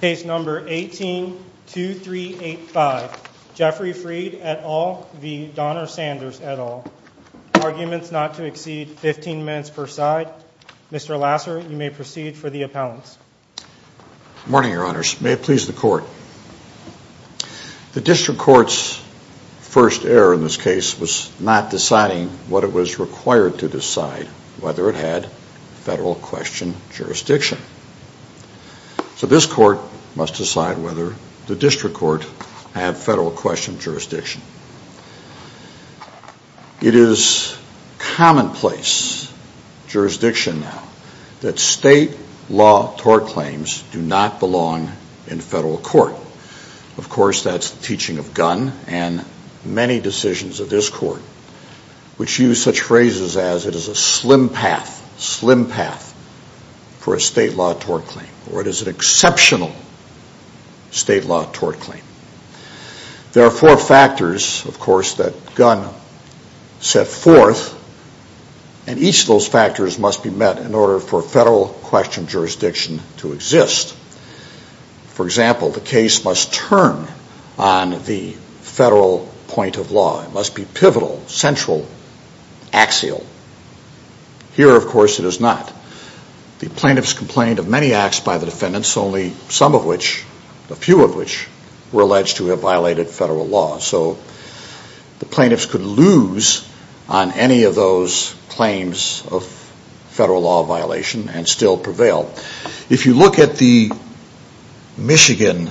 Case number 18-2385, Jeffrey Fried et al. v. Donna Sanders et al., arguments not to exceed 15 minutes per side. Mr. Lasser, you may proceed for the appellants. Good morning, your honors. May it please the court. The district court's first error in this case was not deciding what it was required to decide, whether it had federal question jurisdiction. So this court must decide whether the district court had federal question jurisdiction. It is commonplace jurisdiction now that state law tort claims do not belong in federal court. Of course, that's the teaching of Gunn and many decisions of this court, which use such a slim path for a state law tort claim, or it is an exceptional state law tort claim. There are four factors, of course, that Gunn set forth and each of those factors must be met in order for federal question jurisdiction to exist. For example, the case must turn on the federal point of law. It must be pivotal, central, axial. Here, of course, it is not. The plaintiffs complained of many acts by the defendants, only some of which, a few of which, were alleged to have violated federal law. So the plaintiffs could lose on any of those claims of federal law violation and still prevail. If you look at the Michigan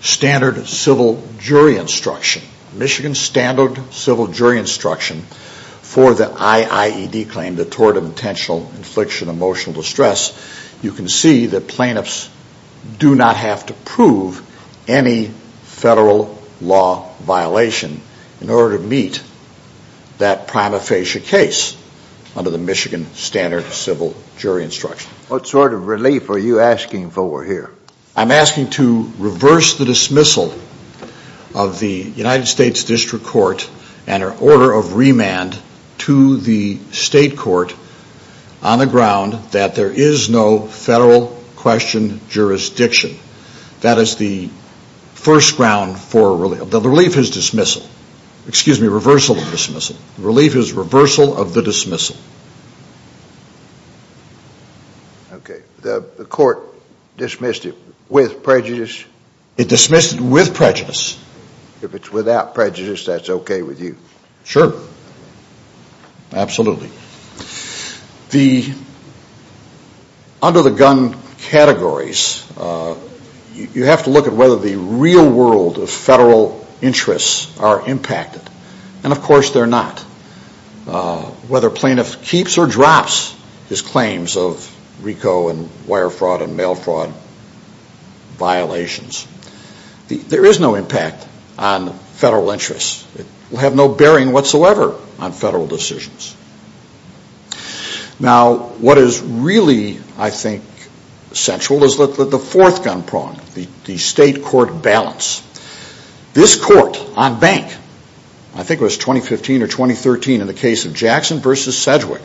standard civil jury instruction, Michigan standard civil jury instruction for the IIED claim, the Tort of Intentional Infliction of Emotional Distress, you can see that plaintiffs do not have to prove any federal law violation in order to meet that prima facie case under the Michigan standard civil jury instruction. What sort of relief are you asking for here? I'm asking to reverse the dismissal of the United States District Court and her order of remand to the state court on the ground that there is no federal question jurisdiction. That is the first ground for relief. The relief is dismissal. Excuse me, reversal of dismissal. Relief is reversal of the dismissal. Okay. The court dismissed it with prejudice? It dismissed it with prejudice. If it's without prejudice, that's okay with you? Sure. Absolutely. Under the gun categories, you have to look at whether the real world of federal interests are impacted. And of course they're not. Whether plaintiff keeps or drops his claims of RICO and wire fraud and mail fraud violations, there is no impact on federal interests. It will have no bearing whatsoever on federal decisions. Now what is really, I think, central is the fourth gun prong, the state court balance. This court on bank, I think it was 2015 or 2013 in the case of Jackson versus Sedgwick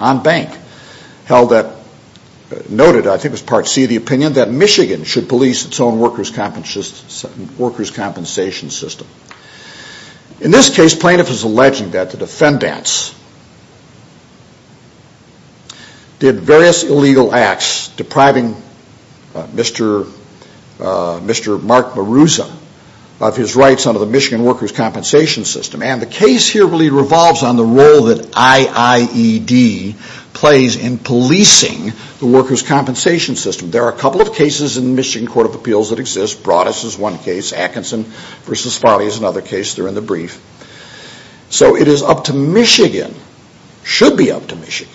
on bank, held that, noted I think it was Part C of the opinion, that Michigan should police its own workers' compensation system. In this case, plaintiff is alleging that the defendants did various illegal acts depriving Mr. Mark Maruza of his rights under the Michigan workers' compensation system. And the case here really revolves on the role that IIED plays in policing the workers' compensation system. There are a couple of cases in the Michigan Court of Appeals that exist. Broadus is one case. Atkinson versus Farley is another case. They're in the brief. So it is up to Michigan, should be up to Michigan,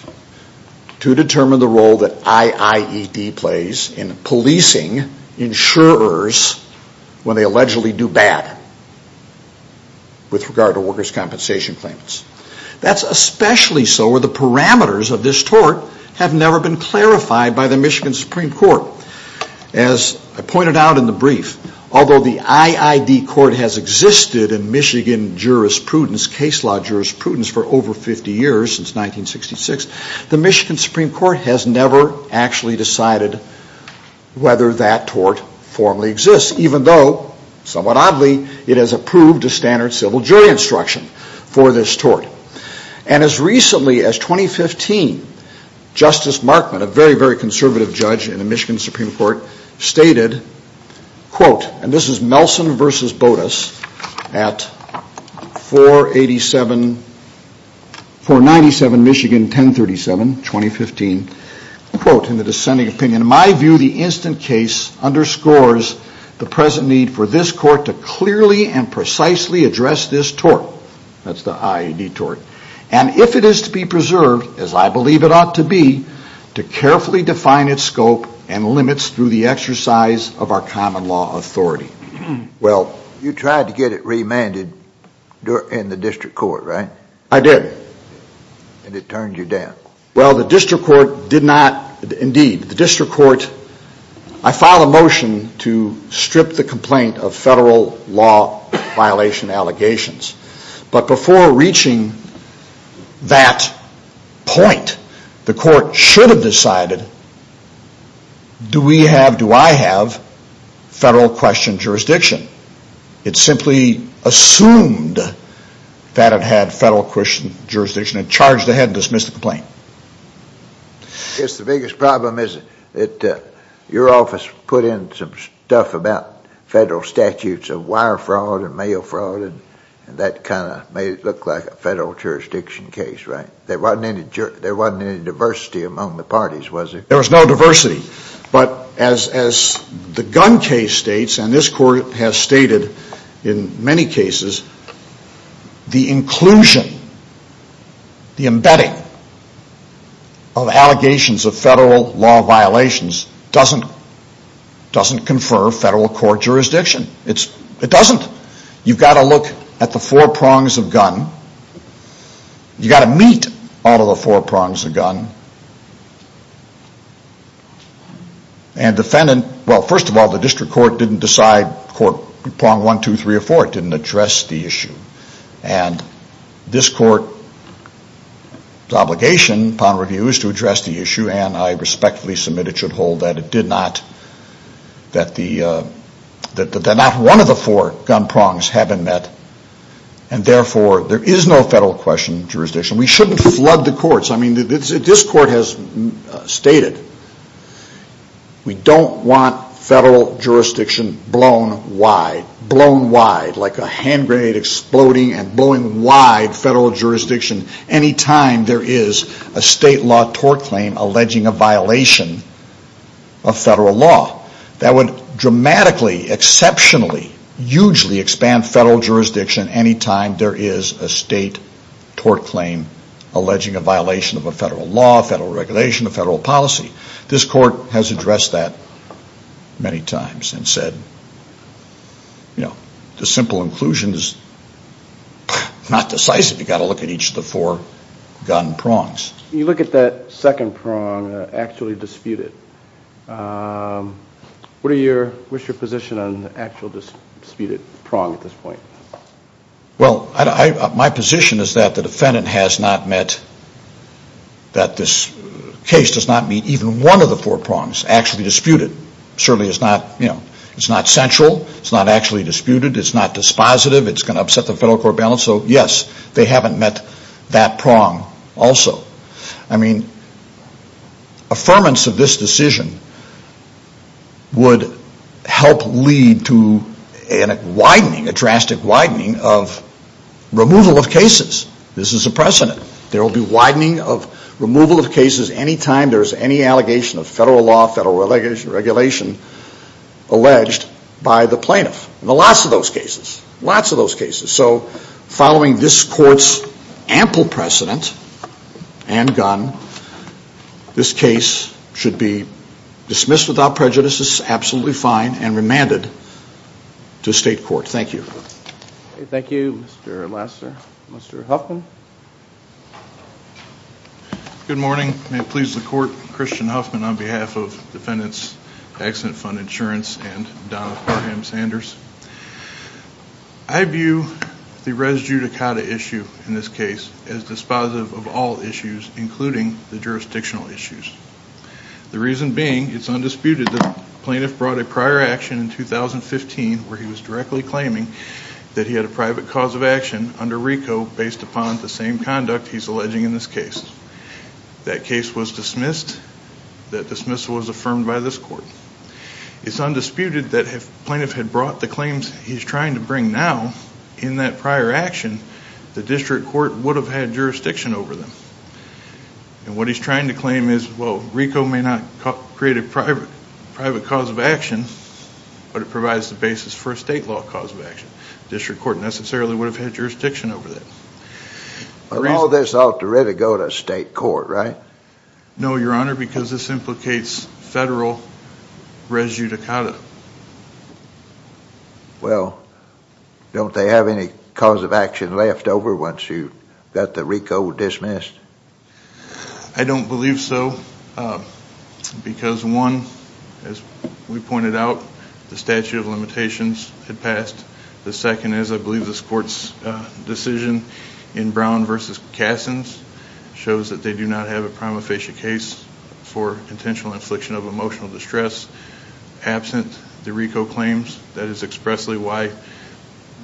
to determine the role that IIED plays in policing insurers when they allegedly do bad with regard to workers' compensation claims. That's especially so where the parameters of this tort have never been clarified by the Michigan Supreme Court. As I pointed out in the brief, although the IIED court has existed in Michigan jurisprudence, case law jurisprudence, for over 50 years, since 1966, the Michigan Supreme Court has never actually decided whether that tort formally exists, even though, somewhat oddly, it has approved a standard civil jury instruction for this tort. And as recently as 2015, Justice Markman, a very, very conservative judge in the Michigan Supreme Court, stated, quote, and this is Melson versus Broadus at 487, 497 Michigan 1037, 2015, quote, in the dissenting opinion, in my view, the instant case underscores the present need for this court to clearly and precisely address this tort, that's the IIED tort, and if it is to be preserved, as I believe it ought to be, to carefully define its scope and limits through the exercise of our common law authority. Well, you tried to get it remanded in the district court, right? I did. And it turned you down? Well, the district court did not, indeed, the district motion to strip the complaint of federal law violation allegations. But before reaching that point, the court should have decided, do we have, do I have, federal question jurisdiction? It simply assumed that it had federal question jurisdiction and charged ahead and dismissed the complaint. I guess the biggest problem is that your office put in some stuff about federal statutes of wire fraud and mail fraud and that kind of made it look like a federal jurisdiction case, right? There wasn't any diversity among the parties, was there? There was no diversity. But as the Gunn case states, and this court has stated in many cases, the inclusion, the embedding of allegations of federal law violations doesn't confer federal court jurisdiction. It doesn't. You've got to look at the four prongs of Gunn. You've got to meet all of the four prongs of Gunn. And defendant, well, first of all, the district court didn't decide prong one, two, three, or four. It didn't address the issue. And this court's obligation upon review is to address the issue and I respectfully submit it should hold that it did not, that the, that not one of the four Gunn prongs haven't met and therefore there is no federal question jurisdiction. We shouldn't flood the courts. I mean, this court has stated we don't want federal jurisdiction blown wide, blown wide like a hand grenade exploding and blowing wide federal jurisdiction any time there is a state law tort claim alleging a violation of federal law. That would dramatically, exceptionally, hugely expand federal jurisdiction any time there is a state tort claim alleging a violation of a federal law, federal regulation, a federal policy. This court has addressed that many times and said, you know, the simple inclusion is not decisive. You've got to look at each of the four Gunn prongs. You look at that second prong, actually dispute it. What are your, what's your position on the actual disputed prong at this point? Well, I, my position is that the defendant has not met, that this case does not meet even one of the four prongs actually disputed. Certainly it's not, you know, it's not central. It's not actually disputed. It's not dispositive. It's going to upset the federal court balance. So yes, they haven't met that prong also. I mean, affirmance of this decision would help lead to a widening, a drastic widening of removal of cases. This is a precedent. There will be widening of removal of cases any time there is any allegation of federal law, federal regulation alleged by the plaintiff. Lots of those cases. Lots of those cases. So following this court's ample precedent and Gunn, this case should be dismissed without prejudice. This is absolutely fine and remanded to state court. Thank you. Thank you, Mr. Lassner. Mr. Huffman. Good morning. May it please the court, Christian Huffman on behalf of Defendants Accident Fund Insurance and Donald Graham Sanders. I view the res judicata issue in this case as dispositive of all issues including the jurisdictional issues. The reason being it's undisputed that the plaintiff brought a prior action in 2015 where he was directly claiming that he had a private cause of action under RICO based upon the same conduct he's It's undisputed that if the plaintiff had brought the claims he's trying to bring now in that prior action, the district court would have had jurisdiction over them. And what he's trying to claim is, well, RICO may not create a private cause of action, but it provides the basis for a state law cause of action. The district court necessarily would have had jurisdiction over that. But all this ought to really go to state court, right? No, your res judicata. Well, don't they have any cause of action left over once you got the RICO dismissed? I don't believe so, because one, as we pointed out, the statute of limitations had passed. The second is I believe this court's decision in Brown v. Kassens shows that they do not have a prima facie case for intentional infliction of emotional distress absent the RICO claims. That is expressly why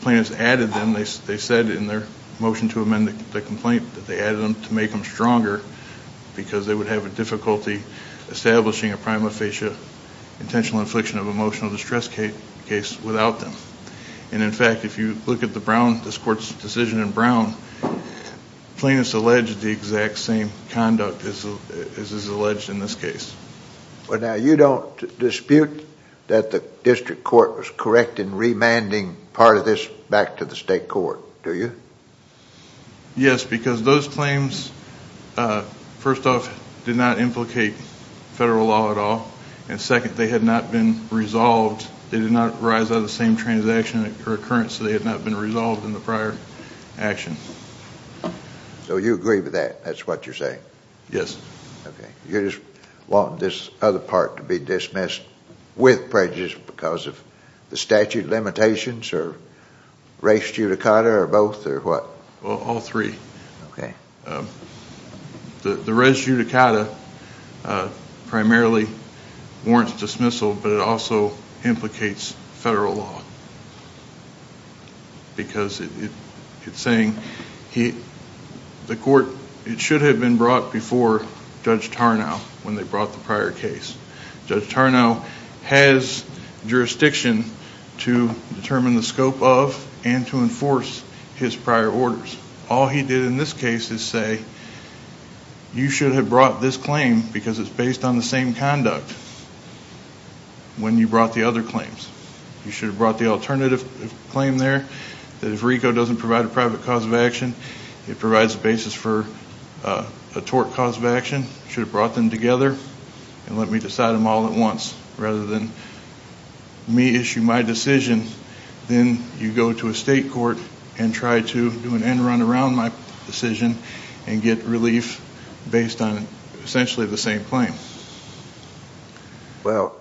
plaintiffs added them. They said in their motion to amend the complaint that they added them to make them stronger because they would have a difficulty establishing a prima facie intentional infliction of emotional distress case without them. And in fact, if you look at the Brown, this court's decision in Brown, plaintiffs allege the exact same conduct as is alleged in this case. Well, now, you don't dispute that the district court was correct in remanding part of this back to the state court, do you? Yes, because those claims, first off, did not implicate federal law at all. And second, they had not been resolved. They did not arise out of the same transaction or occurrence, so they had not been resolved in the prior action. So you agree with that? That's what you're saying? Yes. Okay. You just want this other part to be dismissed with prejudice because of the statute limitations or res judicata or both or what? Well, all three. Okay. The res judicata primarily warrants dismissal, but it also implicates federal law because it's saying the court it should have been brought before Judge Tarnow when they brought the prior case. Judge Tarnow has jurisdiction to determine the scope of and to enforce his prior orders. All he did in this case is say, you should have brought this claim because it's based on the same conduct when you brought the other claims. You should have brought the alternative claim there that if RICO doesn't provide a private cause of action, it provides a basis for a tort cause of action. You should have brought them together and let me decide them all at once rather than me issue my decision. Then you go to a state court and try to do an end run around my decision and get relief based on essentially the same claim. Well,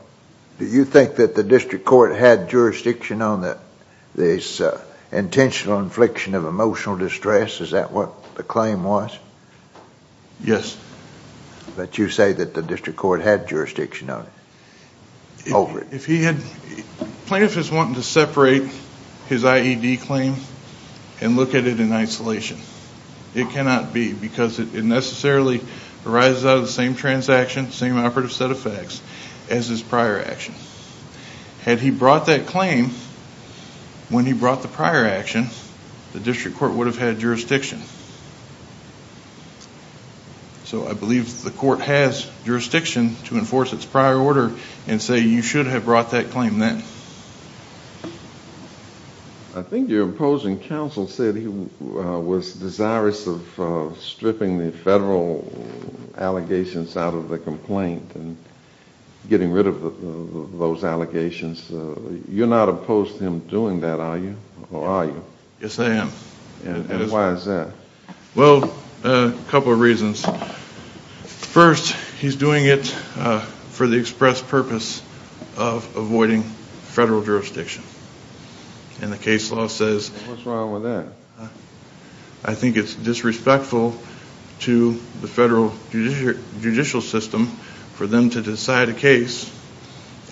do you think that the district court had jurisdiction on this intentional infliction of emotional distress? Is that what the claim was? Yes. But you say that the district court had jurisdiction on it. If he had, plaintiff is wanting to separate his IED claim and look at it in isolation. It cannot be because it necessarily arises out of the same transaction, same operative set of facts as his prior action. Had he brought that claim when he brought the prior action, the district court would have had jurisdiction. So I believe the court has jurisdiction to prior order and say you should have brought that claim then. I think your opposing counsel said he was desirous of stripping the federal allegations out of the complaint and getting rid of those allegations. You're not opposed to him doing that, are you? Yes, I am. And of avoiding federal jurisdiction. And the case law says... What's wrong with that? I think it's disrespectful to the federal judicial system for them to decide a case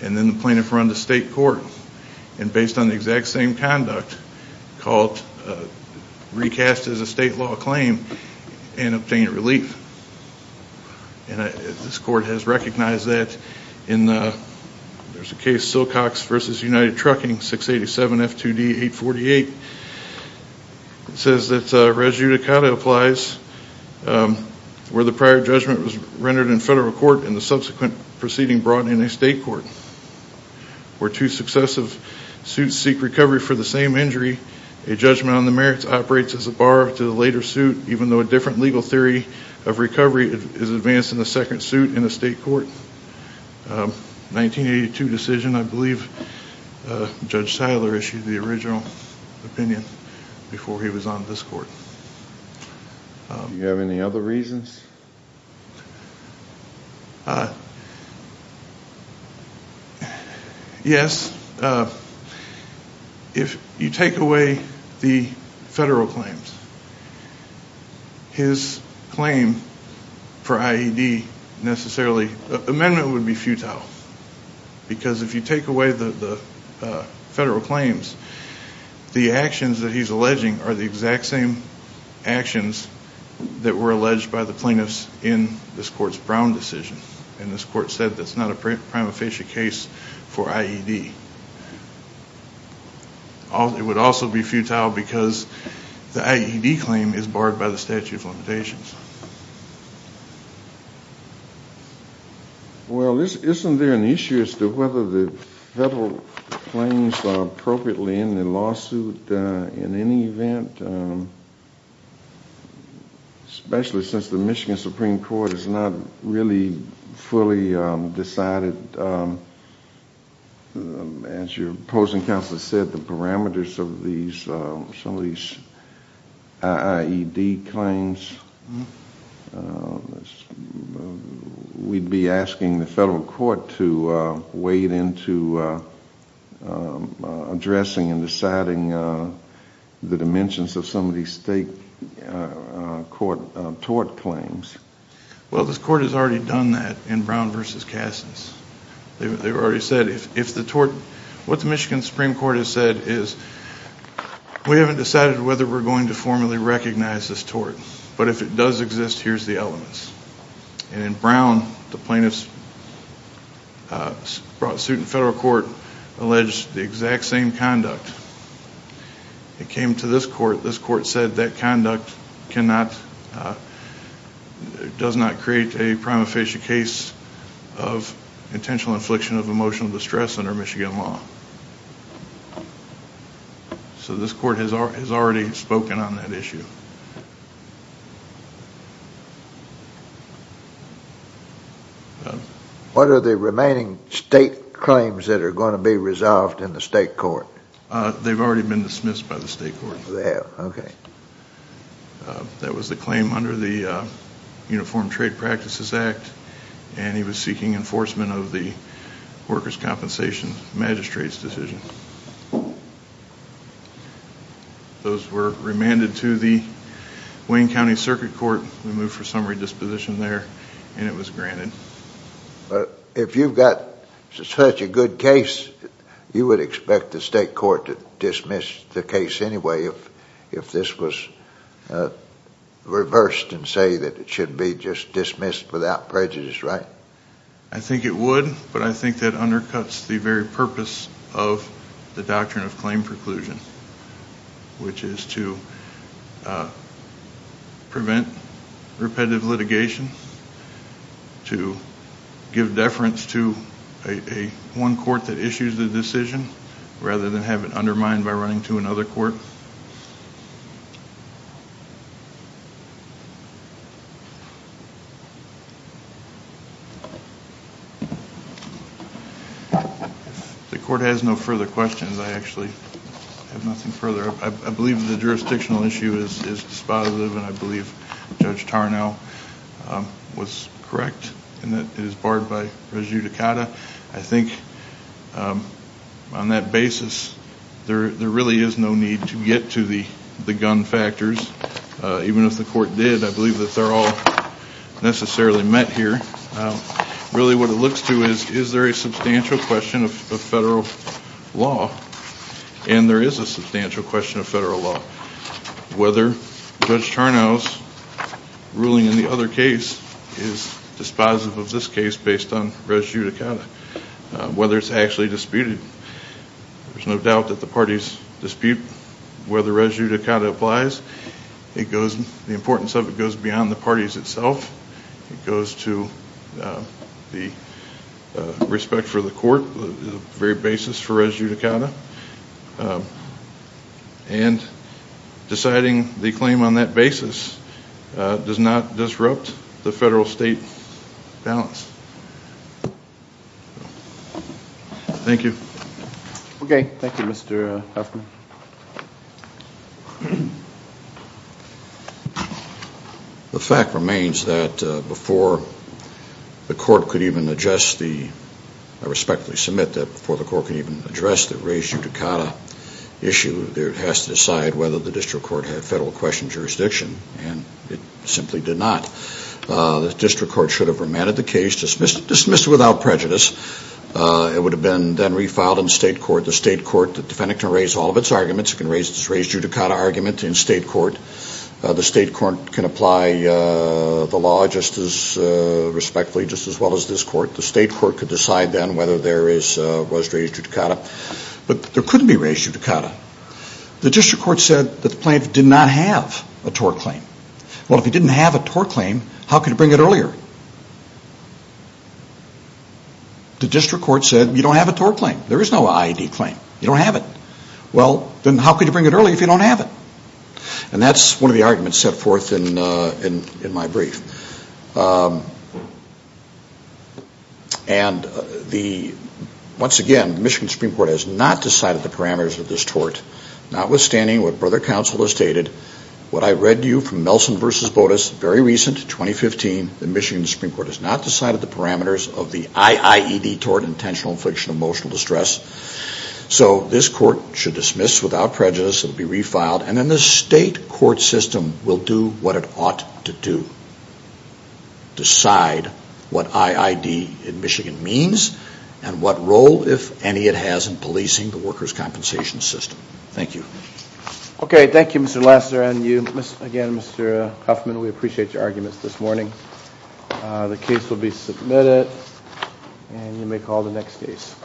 and then the plaintiff run to state court and based on the exact same conduct, recast as a state law claim and obtain relief. And this court has recognized that in the case Silcox v. United Trucking 687 F2D 848. It says that Res Judicata applies where the prior judgment was rendered in federal court and the subsequent proceeding brought in a state court. Where two successive suits seek recovery for the same injury, a judgment on the merits operates as a bar to the later suit, even though a different legal theory of recovery is advanced in the second suit in the state court. 1982 decision, I believe Judge Tyler issued the original opinion before he was on this court. Do you have any other reasons? Yes. If you take away the federal claims, his claim for IED necessarily... Amendment would be futile. Because if you take away the federal claims, the actions that he's alleging are the exact same actions that were alleged by the plaintiffs in this court's Brown decision. And this court said it's not a prima facie case for IED. It would also be futile because the IED claim is barred by the statute of limitations. Well, isn't there an issue as to whether the federal claims are appropriately in the lawsuit in any event? Especially since the Michigan Supreme Court has not really fully decided, as your opposing counsel said, the parameters of some of these IED claims. We'd be asking the federal court to wade into addressing and deciding the dimensions of some of these state court tort claims. Well, this court has already done that in Brown v. Kassens. They've already said if the tort... What the Michigan Supreme Court has said is, we haven't decided whether we're going to formally recognize this tort. But if it does exist, here's the elements. And in Brown, the plaintiffs brought suit in federal court, alleged the exact same conduct. It came to this court, this court said that conduct cannot, does not create a prima facie case of intentional infliction of emotional distress under Michigan law. So this court has already spoken on that issue. What are the remaining state claims that are going to be resolved in the state court? They've already been dismissed by the state court. That was the claim under the Uniform Trade Practices Act, and he was seeking enforcement of the workers' compensation magistrate's decision. Those were remanded to the Wayne County Circuit Court. We moved for summary disposition there, and it was granted. If you've got such a good case, you would expect the state court to dismiss the case anyway if this was reversed and say that it should be just dismissed without prejudice, right? I think it would, but I think that undercuts the very purpose of the doctrine of claim preclusion, which is to prevent repetitive litigation, to give deference to one court that issues the decision rather than have it undermined by running to another court. The court has no further questions. I actually have nothing further. I believe the jurisdictional issue is dispositive, and I believe Judge Tarnow was correct in that it is barred by On that basis, there really is no need to get to the gun factors. Even if the court did, I believe that they're all necessarily met here. Really what it looks to is, is there a substantial question of federal law? And there is a substantial question of federal law. Whether Judge Tarnow's ruling in the other case is dispositive of this case based on res judicata, whether it's actually disputed. There's no doubt that the parties dispute whether res judicata applies. The importance of it goes beyond the parties itself. It goes to the respect for the court, the very basis for res judicata. And deciding the claim on that basis does not disrupt the federal state balance. Thank you. Okay, thank you Mr. Huffman. The fact remains that before the court could even address the I respectfully submit that before the court could even address the res judicata issue, it has to decide whether the district court had federal question jurisdiction. And it simply did not. The district court should have remanded the case, dismissed it without prejudice. It would have been then refiled in the state court. The state court defendant can raise all of its arguments. It can raise its res judicata argument in state court. The state court can apply the law just as respectfully, just as well as this court. The state court could decide then whether there was res judicata. But there couldn't be res judicata. The district court said that the plaintiff did not have a tort claim. Well, if he didn't have a tort claim, how could he bring it earlier? The district court said you don't have a tort claim. There is no IED claim. You don't have it. Well, then how could you bring it earlier if you don't have it? And that's one of the arguments set in my brief. And the, once again, Michigan Supreme Court has not decided the parameters of this tort, notwithstanding what brother counsel has stated. What I read to you from Nelson v. Botas, very recent, 2015, the Michigan Supreme Court has not decided the parameters of the IIED tort, intentional infliction of emotional distress. So this court should dismiss this without prejudice. It will be refiled. And then the state court system will do what it ought to do. Decide what IIED in Michigan means and what role, if any, it has in policing the workers' compensation system. Thank you. Okay. Thank you, Mr. Lassiter. And you, again, Mr. Huffman, we appreciate your arguments this morning. The case will be submitted. And you may call the next case.